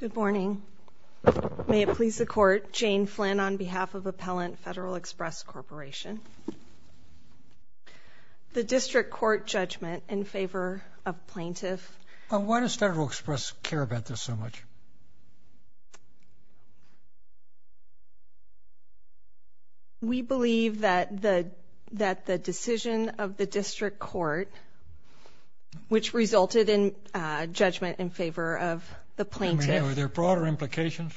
Good morning. May it please the Court, Jane Flynn on behalf of Appellant Federal Express Corporation. The District Court judgment in favor of Plaintiff. Why does Federal Express care about this so much? We believe that the decision of the District Court, which resulted in judgment in favor of the Plaintiff. Are there broader implications?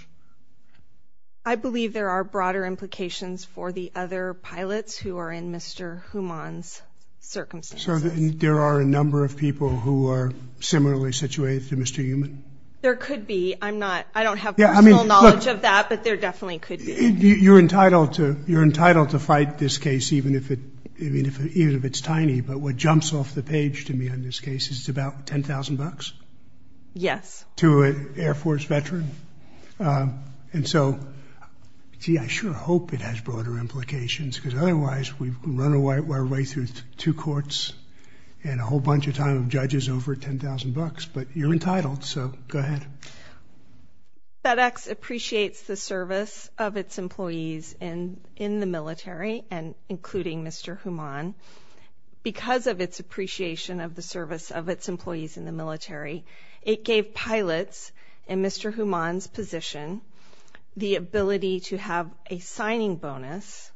I believe there are broader implications for the other pilots who are in Mr. Huhmann's circumstances. So there are a number of people who are similarly situated to Mr. Heumann? There could be. I don't have personal knowledge of that, but there definitely could be. You're entitled to fight this case, even if it's tiny. But what jumps off the page to me on this case is it's about $10,000? Yes. To an Air Force veteran. And so, gee, I sure hope it has broader implications, because otherwise we run our way through two courts and a whole bunch of time of judges over $10,000. But you're entitled, so go ahead. FedEx appreciates the service of its employees in the military, including Mr. Heumann. Because of its appreciation of the service of its employees in the military, it gave pilots in Mr. Heumann's position the ability to have a signing bonus,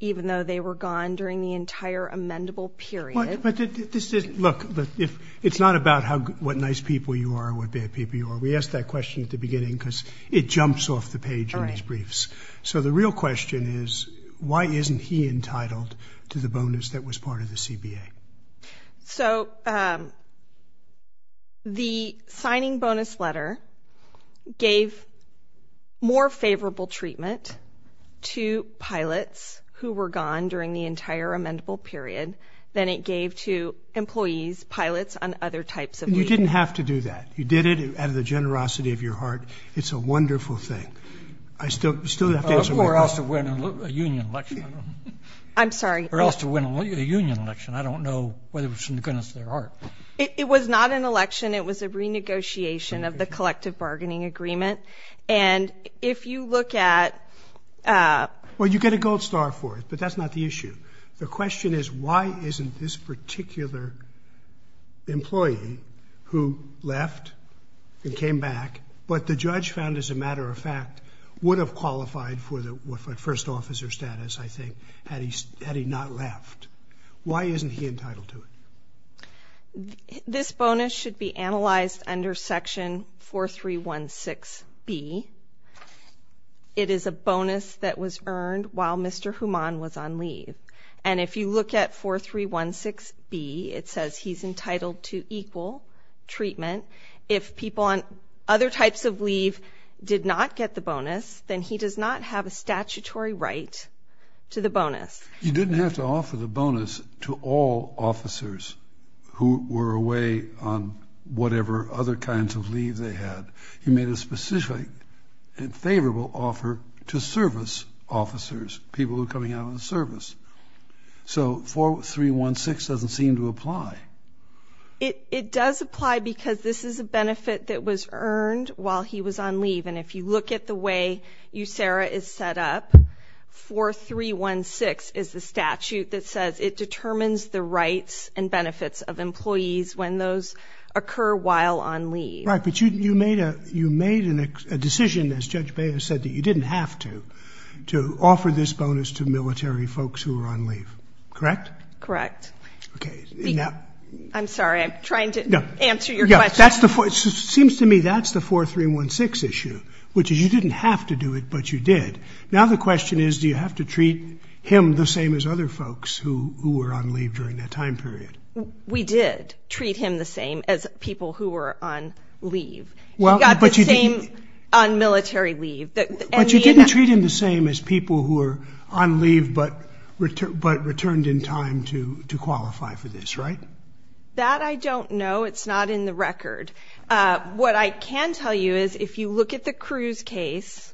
even though they were gone during the entire amendable period. Look, it's not about what nice people you are or what bad people you are. We asked that question at the beginning because it jumps off the page in these briefs. So the real question is, why isn't he entitled to the bonus that was part of the CBA? So the signing bonus letter gave more favorable treatment to pilots who were gone during the entire amendable period than it gave to employees, pilots on other types of leave. You didn't have to do that. You did it out of the generosity of your heart. It's a wonderful thing. I still have to answer your question. Or else to win a union election. I'm sorry? Or else to win a union election. I don't know whether it was in the goodness of their heart. It was not an election. It was a renegotiation of the collective bargaining agreement. And if you look at – Well, you get a gold star for it, but that's not the issue. The question is, why isn't this particular employee who left and came back, but the judge found, as a matter of fact, would have qualified for the first officer status, I think, had he not left. Why isn't he entitled to it? This bonus should be analyzed under Section 4316B. It is a bonus that was earned while Mr. Human was on leave. And if you look at 4316B, it says he's entitled to equal treatment. If people on other types of leave did not get the bonus, then he does not have a statutory right to the bonus. You didn't have to offer the bonus to all officers who were away on whatever other kinds of leave they had. You made a specific and favorable offer to service officers, people who are coming out on the service. So 4316 doesn't seem to apply. It does apply because this is a benefit that was earned while he was on leave. And if you look at the way USERRA is set up, 4316 is the statute that says it determines the rights and benefits of employees when those occur while on leave. Right, but you made a decision, as Judge Baez said, that you didn't have to offer this bonus to military folks who were on leave. Correct? Correct. Okay. I'm sorry. I'm trying to answer your question. It seems to me that's the 4316 issue, which is you didn't have to do it, but you did. Now the question is, do you have to treat him the same as other folks who were on leave during that time period? We did treat him the same as people who were on leave. He got the same on military leave. But you didn't treat him the same as people who were on leave but returned in time to qualify for this, right? That I don't know. I know it's not in the record. What I can tell you is if you look at the Cruz case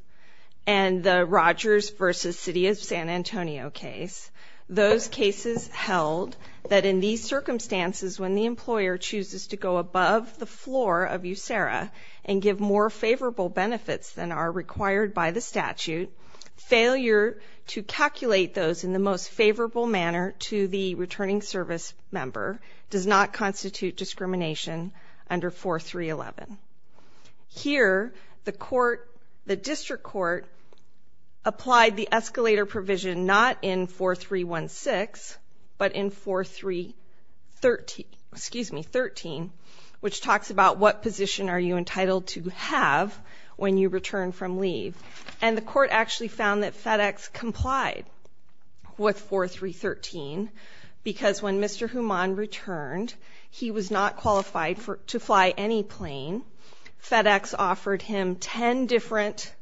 and the Rogers v. City of San Antonio case, those cases held that in these circumstances, when the employer chooses to go above the floor of USERRA and give more favorable benefits than are required by the statute, failure to calculate those in the most favorable manner to the returning service member does not constitute discrimination under 4311. Here the court, the district court, applied the escalator provision not in 4316 but in 4313, which talks about what position are you entitled to have when you return from leave. And the court actually found that FedEx complied with 4313 because when Mr. Human returned, he was not qualified to fly any plane. FedEx offered him ten different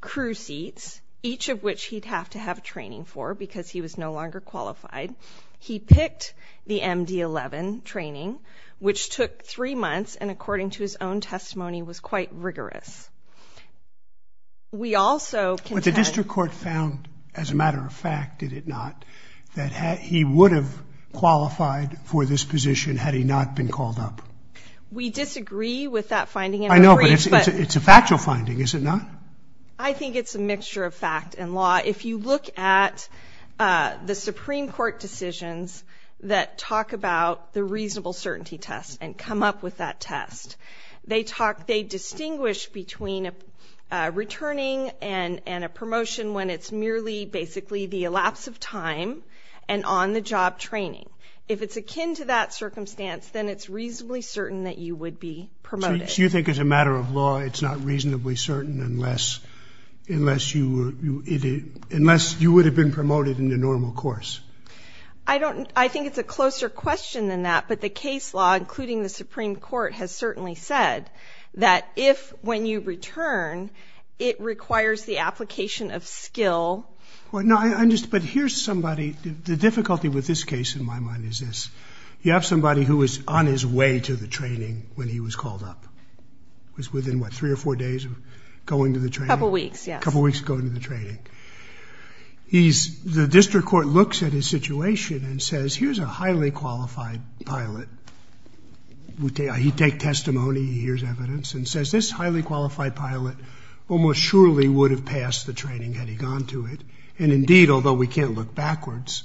crew seats, each of which he'd have to have training for because he was no longer qualified. He picked the MD-11 training, which took three months and according to his own testimony was quite rigorous. We also contend- What the district court found, as a matter of fact, did it not, that he would have qualified for this position had he not been called up. We disagree with that finding. I know, but it's a factual finding, is it not? I think it's a mixture of fact and law. If you look at the Supreme Court decisions that talk about the reasonable certainty test and come up with that test, they distinguish between a returning and a promotion when it's merely basically the elapse of time and on-the-job training. If it's akin to that circumstance, then it's reasonably certain that you would be promoted. So you think as a matter of law it's not reasonably certain unless you were- unless you would have been promoted in the normal course? I don't- I think it's a closer question than that, but the case law, including the Supreme Court, has certainly said that if when you return, it requires the application of skill. Well, no, I'm just- but here's somebody- the difficulty with this case, in my mind, is this. You have somebody who was on his way to the training when he was called up. It was within, what, three or four days of going to the training? A couple weeks, yes. A couple weeks of going to the training. He's- the district court looks at his situation and says, here's a highly qualified pilot. He'd take testimony, he hears evidence, and says, this highly qualified pilot almost surely would have passed the training had he gone to it. And indeed, although we can't look backwards,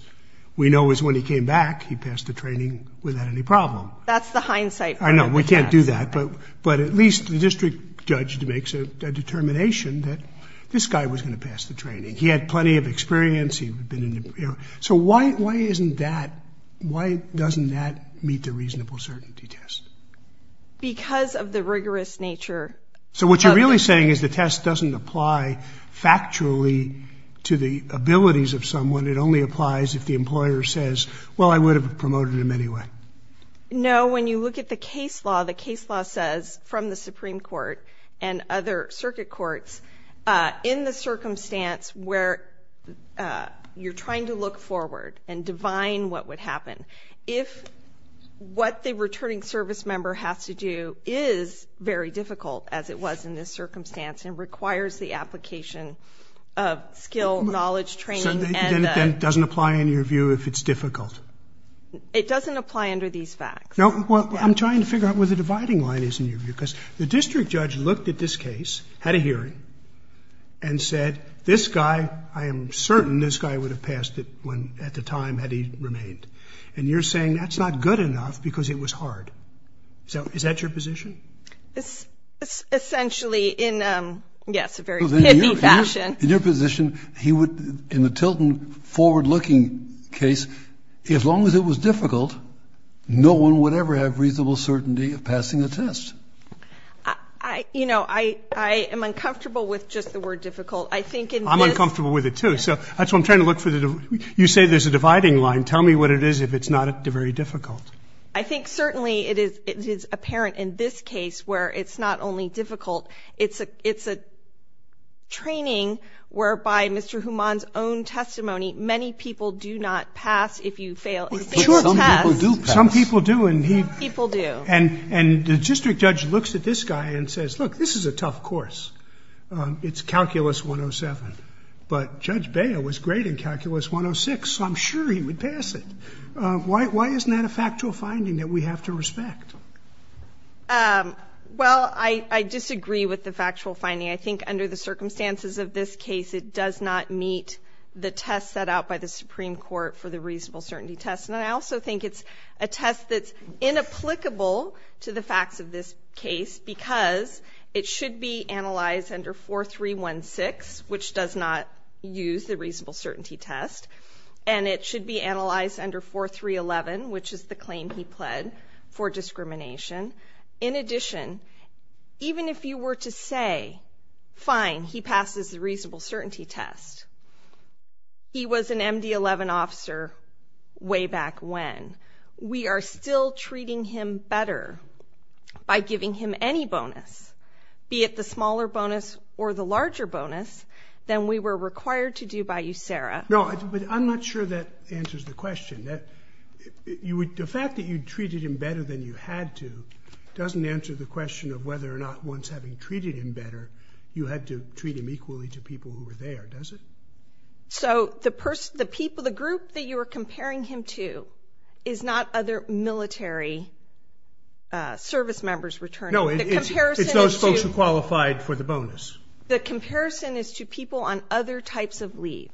we know is when he came back he passed the training without any problem. That's the hindsight. I know. We can't do that. But at least the district judge makes a determination that this guy was going to pass the training. He had plenty of experience. So why isn't that- why doesn't that meet the reasonable certainty test? Because of the rigorous nature. So what you're really saying is the test doesn't apply factually to the abilities of someone. It only applies if the employer says, well, I would have promoted him anyway. No, when you look at the case law, the case law says, from the Supreme Court and other circuit courts, in the circumstance where you're trying to look forward and divine what would happen, if what the returning service member has to do is very difficult, as it was in this circumstance, and requires the application of skill, knowledge, training- So then it doesn't apply in your view if it's difficult. It doesn't apply under these facts. Well, I'm trying to figure out where the dividing line is in your view. Because the district judge looked at this case, had a hearing, and said, this guy, I am certain this guy would have passed it at the time had he remained. And you're saying that's not good enough because it was hard. So is that your position? Essentially in, yes, a very pithy fashion. In your position, in the Tilton forward-looking case, as long as it was difficult, no one would ever have reasonable certainty of passing the test. You know, I am uncomfortable with just the word difficult. I'm uncomfortable with it, too. So that's why I'm trying to look for the- And tell me what it is if it's not very difficult. I think certainly it is apparent in this case where it's not only difficult, it's a training whereby Mr. Houman's own testimony, many people do not pass if you fail. Some people do pass. Some people do. Some people do. And the district judge looks at this guy and says, look, this is a tough course. It's Calculus 107. But Judge Beah was great in Calculus 106, so I'm sure he would pass it. Why isn't that a factual finding that we have to respect? Well, I disagree with the factual finding. I think under the circumstances of this case, it does not meet the test set out by the Supreme Court for the reasonable certainty test. And I also think it's a test that's inapplicable to the facts of this case because it should be analyzed under 4316, which does not use the reasonable certainty test, and it should be analyzed under 4311, which is the claim he pled for discrimination. In addition, even if you were to say, fine, he passes the reasonable certainty test, he was an MD-11 officer way back when. We are still treating him better by giving him any bonus, be it the smaller bonus or the larger bonus, than we were required to do by you, Sarah. No, but I'm not sure that answers the question. The fact that you treated him better than you had to doesn't answer the question of whether or not, once having treated him better, you had to treat him equally to people who were there, does it? So the group that you are comparing him to is not other military service members returning him. No, it's those folks who qualified for the bonus. The comparison is to people on other types of leave.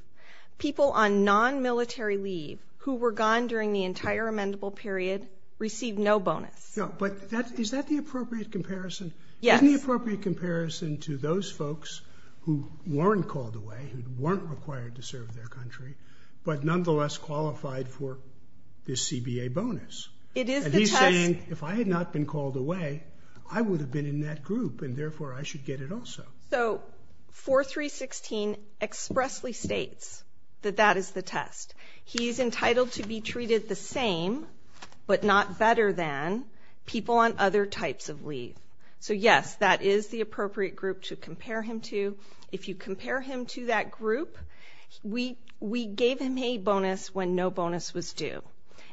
People on non-military leave who were gone during the entire amendable period received no bonus. No, but is that the appropriate comparison? Yes. Isn't the appropriate comparison to those folks who weren't called away, who weren't required to serve their country, but nonetheless qualified for this CBA bonus? It is the test. And if I had not been called away, I would have been in that group, and therefore I should get it also. So 4316 expressly states that that is the test. He is entitled to be treated the same, but not better than, people on other types of leave. So yes, that is the appropriate group to compare him to. If you compare him to that group, we gave him a bonus when no bonus was due.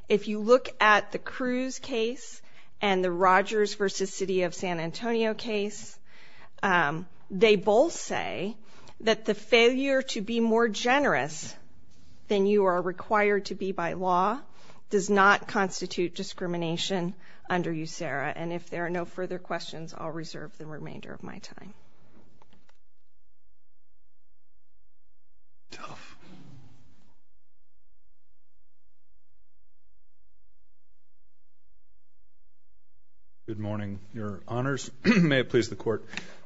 If you look at the Cruz case and the Rogers v. City of San Antonio case, they both say that the failure to be more generous than you are required to be by law does not constitute discrimination under USERRA. And if there are no further questions, I'll reserve the remainder of my time. Good morning, Your Honors. May it please the Court,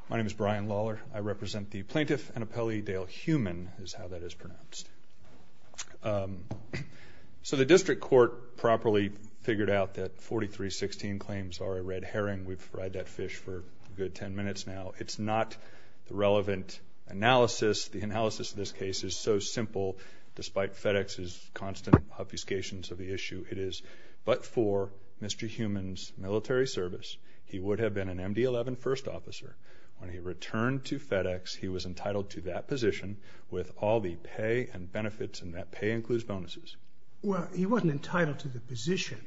my name is Brian Lawler. I represent the plaintiff and appellee, Dale Heumann is how that is pronounced. So the district court properly figured out that 4316 claims are a red herring. We've fried that fish for a good 10 minutes now. It's not the relevant analysis. The analysis of this case is so simple, despite FedEx's constant obfuscations of the issue. It is, but for Mr. Heumann's military service, he would have been an MD-11 first officer. When he returned to FedEx, he was entitled to that position with all the pay and benefits, and that pay includes bonuses. Well, he wasn't entitled to the position,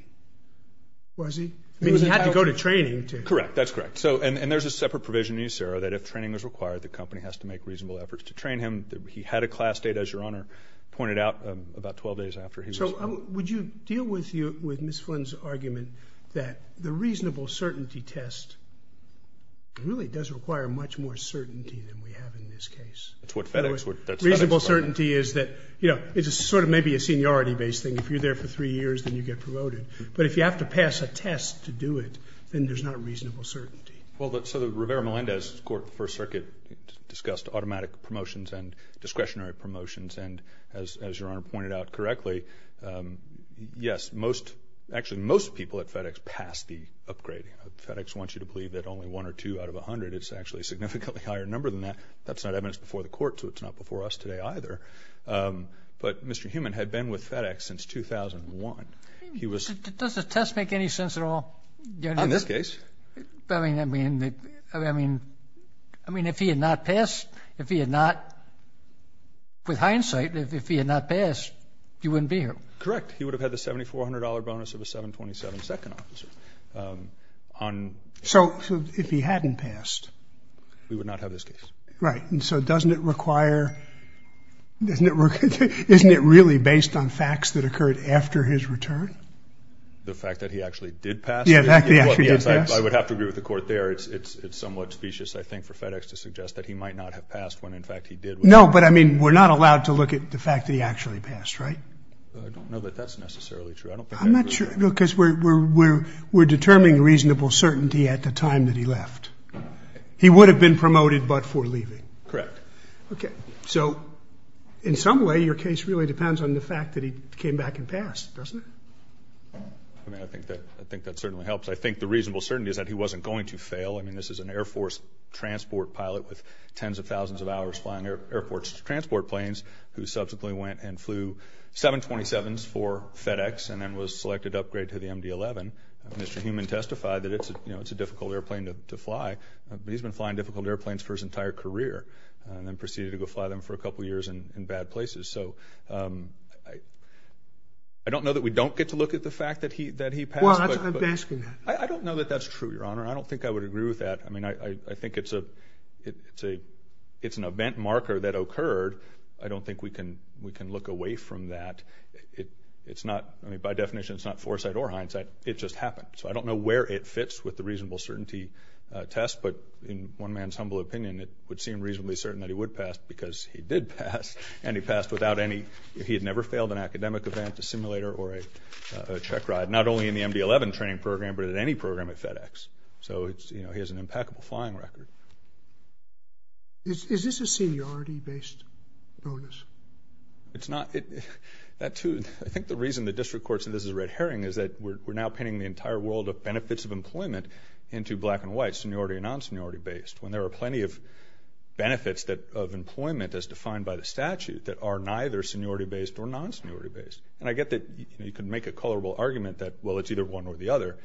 was he? I mean, he had to go to training. Correct, that's correct. And there's a separate provision in USERRA that if training is required, the company has to make reasonable efforts to train him. He had a class date, as Your Honor pointed out, about 12 days after he was. So would you deal with Ms. Flynn's argument that the reasonable certainty test really does require much more certainty than we have in this case? That's what FedEx would. Reasonable certainty is that, you know, it's sort of maybe a seniority-based thing. If you're there for three years, then you get promoted. But if you have to pass a test to do it, then there's not reasonable certainty. Well, so the Rivera-Melendez First Circuit discussed automatic promotions and discretionary promotions, and as Your Honor pointed out correctly, yes, actually most people at FedEx pass the upgrading. FedEx wants you to believe that only one or two out of 100, it's actually a significantly higher number than that. That's not evidence before the court, so it's not before us today either. But Mr. Heumann had been with FedEx since 2001. Does the test make any sense at all? On this case. I mean, if he had not passed, if he had not, with hindsight, if he had not passed, you wouldn't be here. Correct. He would have had the $7,400 bonus of a 727 second officer. So if he hadn't passed? We would not have this case. Right. And so doesn't it require, isn't it really based on facts that occurred after his return? The fact that he actually did pass? Yes, I would have to agree with the court there. It's somewhat specious, I think, for FedEx to suggest that he might not have passed when, in fact, he did. No, but, I mean, we're not allowed to look at the fact that he actually passed, right? I don't know that that's necessarily true. I don't think that's true. I'm not sure because we're determining reasonable certainty at the time that he left. He would have been promoted but for leaving. Correct. Okay. So in some way, your case really depends on the fact that he came back and passed, doesn't it? I mean, I think that certainly helps. I think the reasonable certainty is that he wasn't going to fail. I mean, this is an Air Force transport pilot with tens of thousands of hours flying airports to transport planes who subsequently went and flew 727s for FedEx and then was selected to upgrade to the MD-11. Mr. Heumann testified that it's a difficult airplane to fly. He's been flying difficult airplanes for his entire career and then proceeded to go fly them for a couple of years in bad places. So I don't know that we don't get to look at the fact that he passed. Well, I'm asking that. I don't know that that's true, Your Honor. I don't think I would agree with that. I mean, I think it's an event marker that occurred. I don't think we can look away from that. It's not, I mean, by definition, it's not foresight or hindsight. It just happened. So I don't know where it fits with the reasonable certainty test. But in one man's humble opinion, it would seem reasonably certain that he would pass because he did pass, and he passed without any, he had never failed an academic event, a simulator, or a check ride, not only in the MD-11 training program but in any program at FedEx. So he has an impeccable flying record. Is this a seniority-based onus? It's not. I think the reason the district court said this is a red herring is that we're now painting the entire world of benefits of employment into black and white, seniority and non-seniority based, when there are plenty of benefits of employment as defined by the statute that are neither seniority-based or non-seniority based. And I get that you can make a colorable argument that, well, it's either one or the other,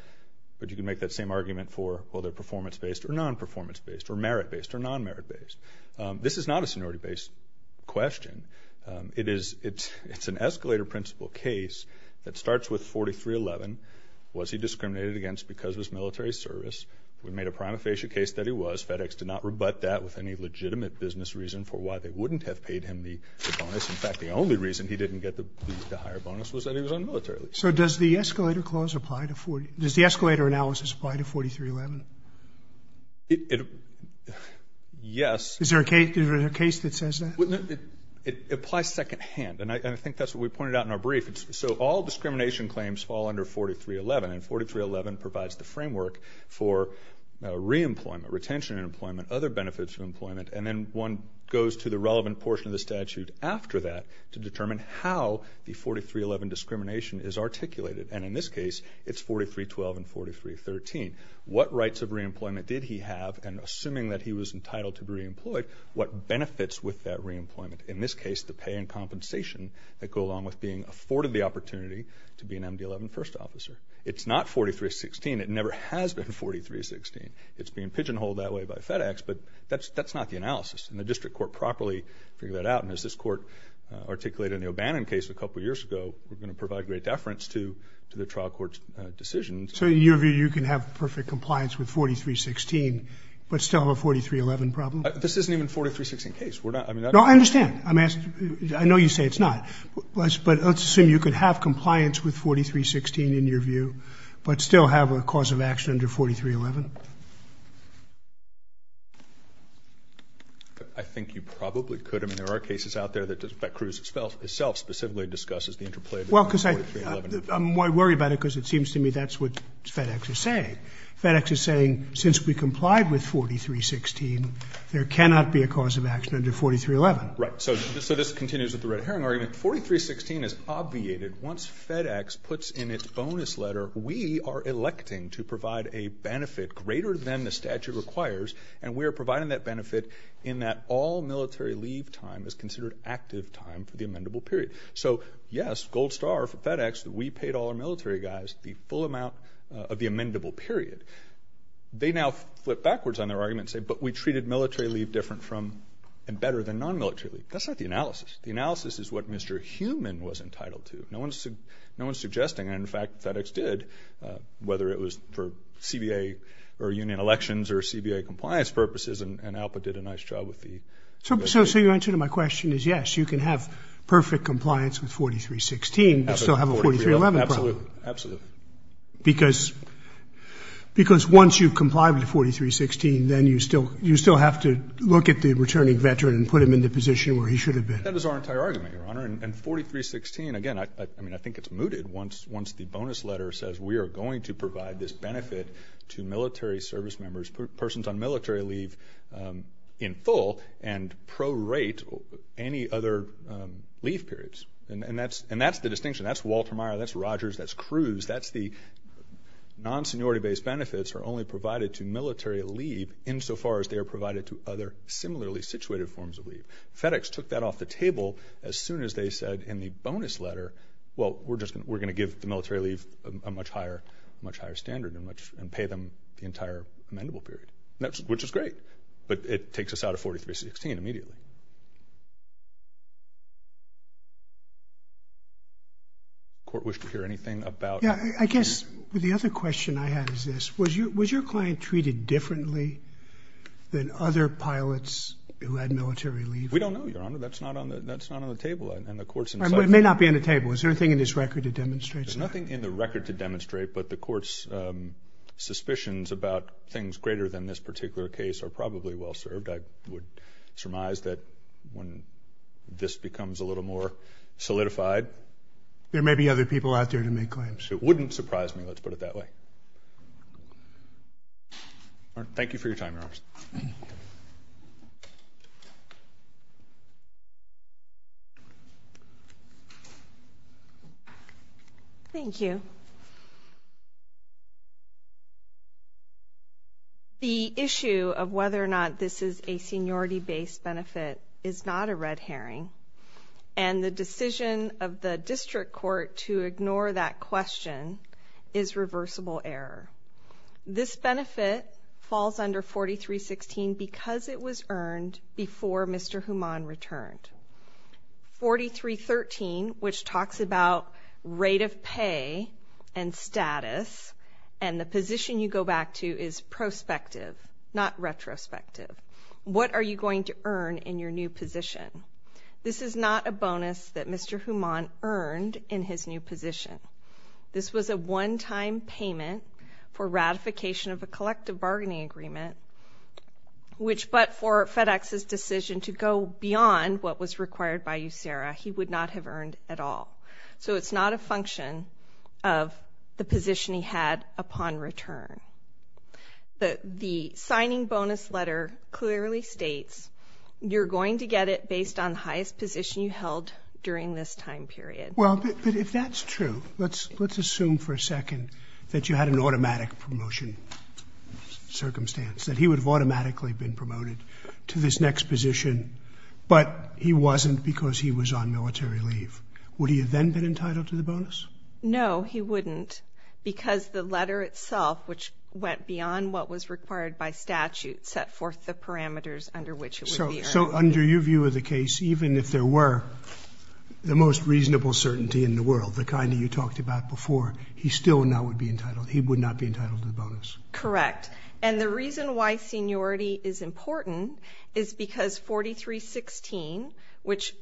but you can make that same argument for, well, they're performance-based or non-performance-based or merit-based or non-merit-based. This is not a seniority-based question. It's an escalator principle case that starts with 4311. Was he discriminated against because of his military service? We made a prima facie case that he was. FedEx did not rebut that with any legitimate business reason for why they wouldn't have paid him the bonus. In fact, the only reason he didn't get the higher bonus was that he was un-military. So does the escalator analysis apply to 4311? Yes. Is there a case that says that? It applies secondhand, and I think that's what we pointed out in our brief. So all discrimination claims fall under 4311, and 4311 provides the framework for re-employment, retention in employment, other benefits of employment, and then one goes to the relevant portion of the statute after that to determine how the 4311 discrimination is articulated. And in this case, it's 4312 and 4313. What rights of re-employment did he have? And assuming that he was entitled to be re-employed, what benefits with that re-employment? In this case, the pay and compensation that go along with being afforded the opportunity to be an MD-11 first officer. It's not 4316. It never has been 4316. It's being pigeonholed that way by FedEx, but that's not the analysis. And the district court properly figured that out, and as this court articulated in the O'Bannon case a couple years ago, we're going to provide great deference to the trial court's decision. So in your view, you can have perfect compliance with 4316 but still have a 4311 problem? This isn't even a 4316 case. No, I understand. I know you say it's not. But let's assume you could have compliance with 4316 in your view but still have a cause of action under 4311. I think you probably could. I mean, there are cases out there that Bet-Cruz itself specifically discusses the interplay between 4311 and 4311. I worry about it because it seems to me that's what FedEx is saying. FedEx is saying since we complied with 4316, there cannot be a cause of action under 4311. Right. So this continues with the red herring argument. 4316 is obviated once FedEx puts in its bonus letter, we are electing to provide a benefit greater than the statute requires, and we are providing that benefit in that all military leave time is considered active time for the amendable period. So, yes, gold star for FedEx, we paid all our military guys the full amount of the amendable period. They now flip backwards on their argument and say, but we treated military leave different from and better than non-military leave. That's not the analysis. The analysis is what Mr. Heumann was entitled to. No one is suggesting, and in fact FedEx did, whether it was for CBA or union elections or CBA compliance purposes, and ALPA did a nice job with the… So your answer to my question is yes, you can have perfect compliance with 4316, but still have a 4311 problem. Absolutely. Because once you've complied with 4316, then you still have to look at the returning veteran and put him in the position where he should have been. That was our entire argument, Your Honor, and 4316, again, I think it's mooted. Once the bonus letter says we are going to provide this benefit to military service members, persons on military leave in full and prorate any other leave periods. And that's the distinction. That's Walter Meyer, that's Rogers, that's Cruz. That's the non-seniority-based benefits are only provided to military leave insofar as they are provided to other similarly situated forms of leave. FedEx took that off the table as soon as they said in the bonus letter, well, we're going to give the military leave a much higher standard and pay them the entire amendable period, which is great. But it takes us out of 4316 immediately. Does the Court wish to hear anything about that? I guess the other question I have is this. Was your client treated differently than other pilots who had military leave? We don't know, Your Honor. That's not on the table. It may not be on the table. Is there anything in this record that demonstrates that? There's nothing in the record to demonstrate, but the Court's suspicions about things greater than this particular case are probably well served. I would surmise that when this becomes a little more solidified. There may be other people out there to make claims. It wouldn't surprise me, let's put it that way. Thank you for your time, Your Honor. Thank you. The issue of whether or not this is a seniority-based benefit is not a red herring, and the decision of the District Court to ignore that question is reversible error. This benefit falls under 4316 because it was earned before Mr. Houman returned. 4313, which talks about rate of pay and status, and the position you go back to is prospective, not retrospective. What are you going to earn in your new position? This is not a bonus that Mr. Houman earned in his new position. This was a one-time payment for ratification of a collective bargaining agreement, which, but for FedEx's decision to go beyond what was required by USERA, he would not have earned at all. So it's not a function of the position he had upon return. The signing bonus letter clearly states you're going to get it based on highest position you held during this time period. Well, but if that's true, let's assume for a second that you had an automatic promotion circumstance, that he would have automatically been promoted to this next position, but he wasn't because he was on military leave. Would he have then been entitled to the bonus? No, he wouldn't, because the letter itself, which went beyond what was required by statute, set forth the parameters under which it would be earned. So under your view of the case, even if there were the most reasonable certainty in the world, the kind that you talked about before, he still now would be entitled. He would not be entitled to the bonus. Correct, and the reason why seniority is important is because 4316, which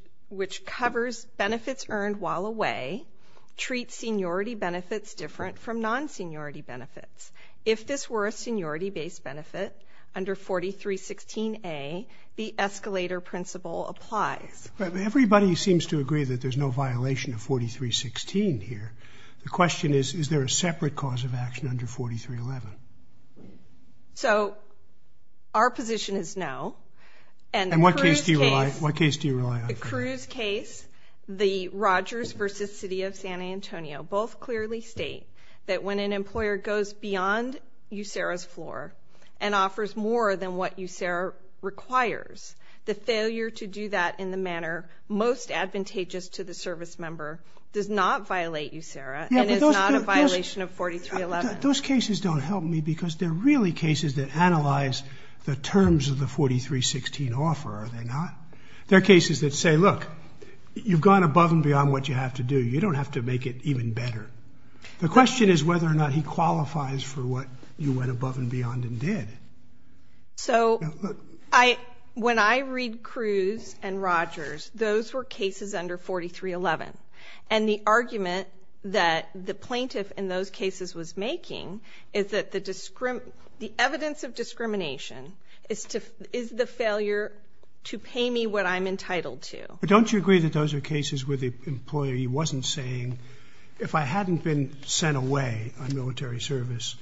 covers benefits earned while away, treats seniority benefits different from non-seniority benefits. If this were a seniority-based benefit under 4316A, the escalator principle applies. Everybody seems to agree that there's no violation of 4316 here. The question is, is there a separate cause of action under 4311? So our position is no. And what case do you rely on? The Cruz case, the Rogers v. City of San Antonio, both clearly state that when an employer goes beyond USERRA's floor and offers more than what USERRA requires, the failure to do that in the manner most advantageous to the service member does not violate USERRA and is not a violation of 4311. Those cases don't help me because they're really cases that analyze the terms of the 4316 offer, are they not? They're cases that say, look, you've gone above and beyond what you have to do. You don't have to make it even better. The question is whether or not he qualifies for what you went above and beyond and did. So when I read Cruz and Rogers, those were cases under 4311, and the argument that the plaintiff in those cases was making is that the evidence of discrimination is the failure to pay me what I'm entitled to. But don't you agree that those are cases where the employee wasn't saying, if I hadn't been sent away on military service,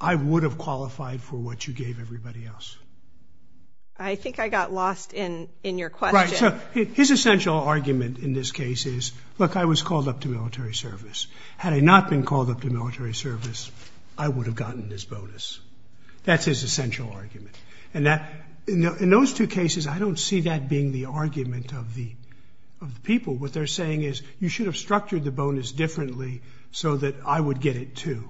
I would have qualified for what you gave everybody else? I think I got lost in your question. Right. So his essential argument in this case is, look, I was called up to military service. Had I not been called up to military service, I would have gotten this bonus. That's his essential argument. In those two cases, I don't see that being the argument of the people. What they're saying is, you should have structured the bonus differently so that I would get it too.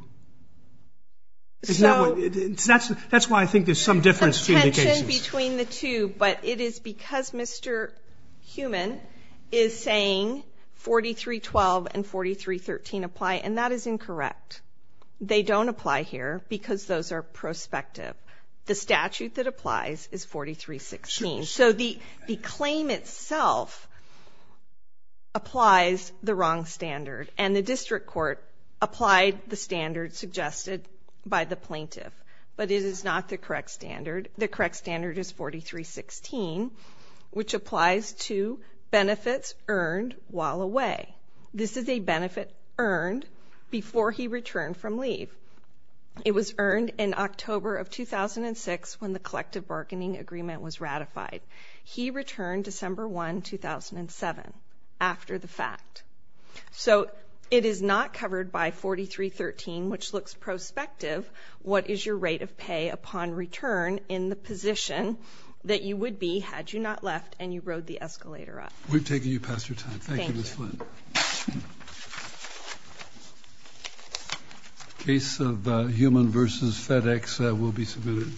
That's why I think there's some difference between the cases. There's some tension between the two, but it is because Mr. Heumann is saying 4312 and 4313 apply, and that is incorrect. They don't apply here because those are prospective. The statute that applies is 4316. So the claim itself applies the wrong standard, and the district court applied the standard suggested by the plaintiff, but it is not the correct standard. The correct standard is 4316, which applies to benefits earned while away. This is a benefit earned before he returned from leave. It was earned in October of 2006 when the collective bargaining agreement was ratified. He returned December 1, 2007 after the fact. So it is not covered by 4313, which looks prospective. What is your rate of pay upon return in the position that you would be had you not left and you rode the escalator up? We've taken you past your time. Thank you, Ms. Flynn. Case of Heumann v. FedEx will be submitted.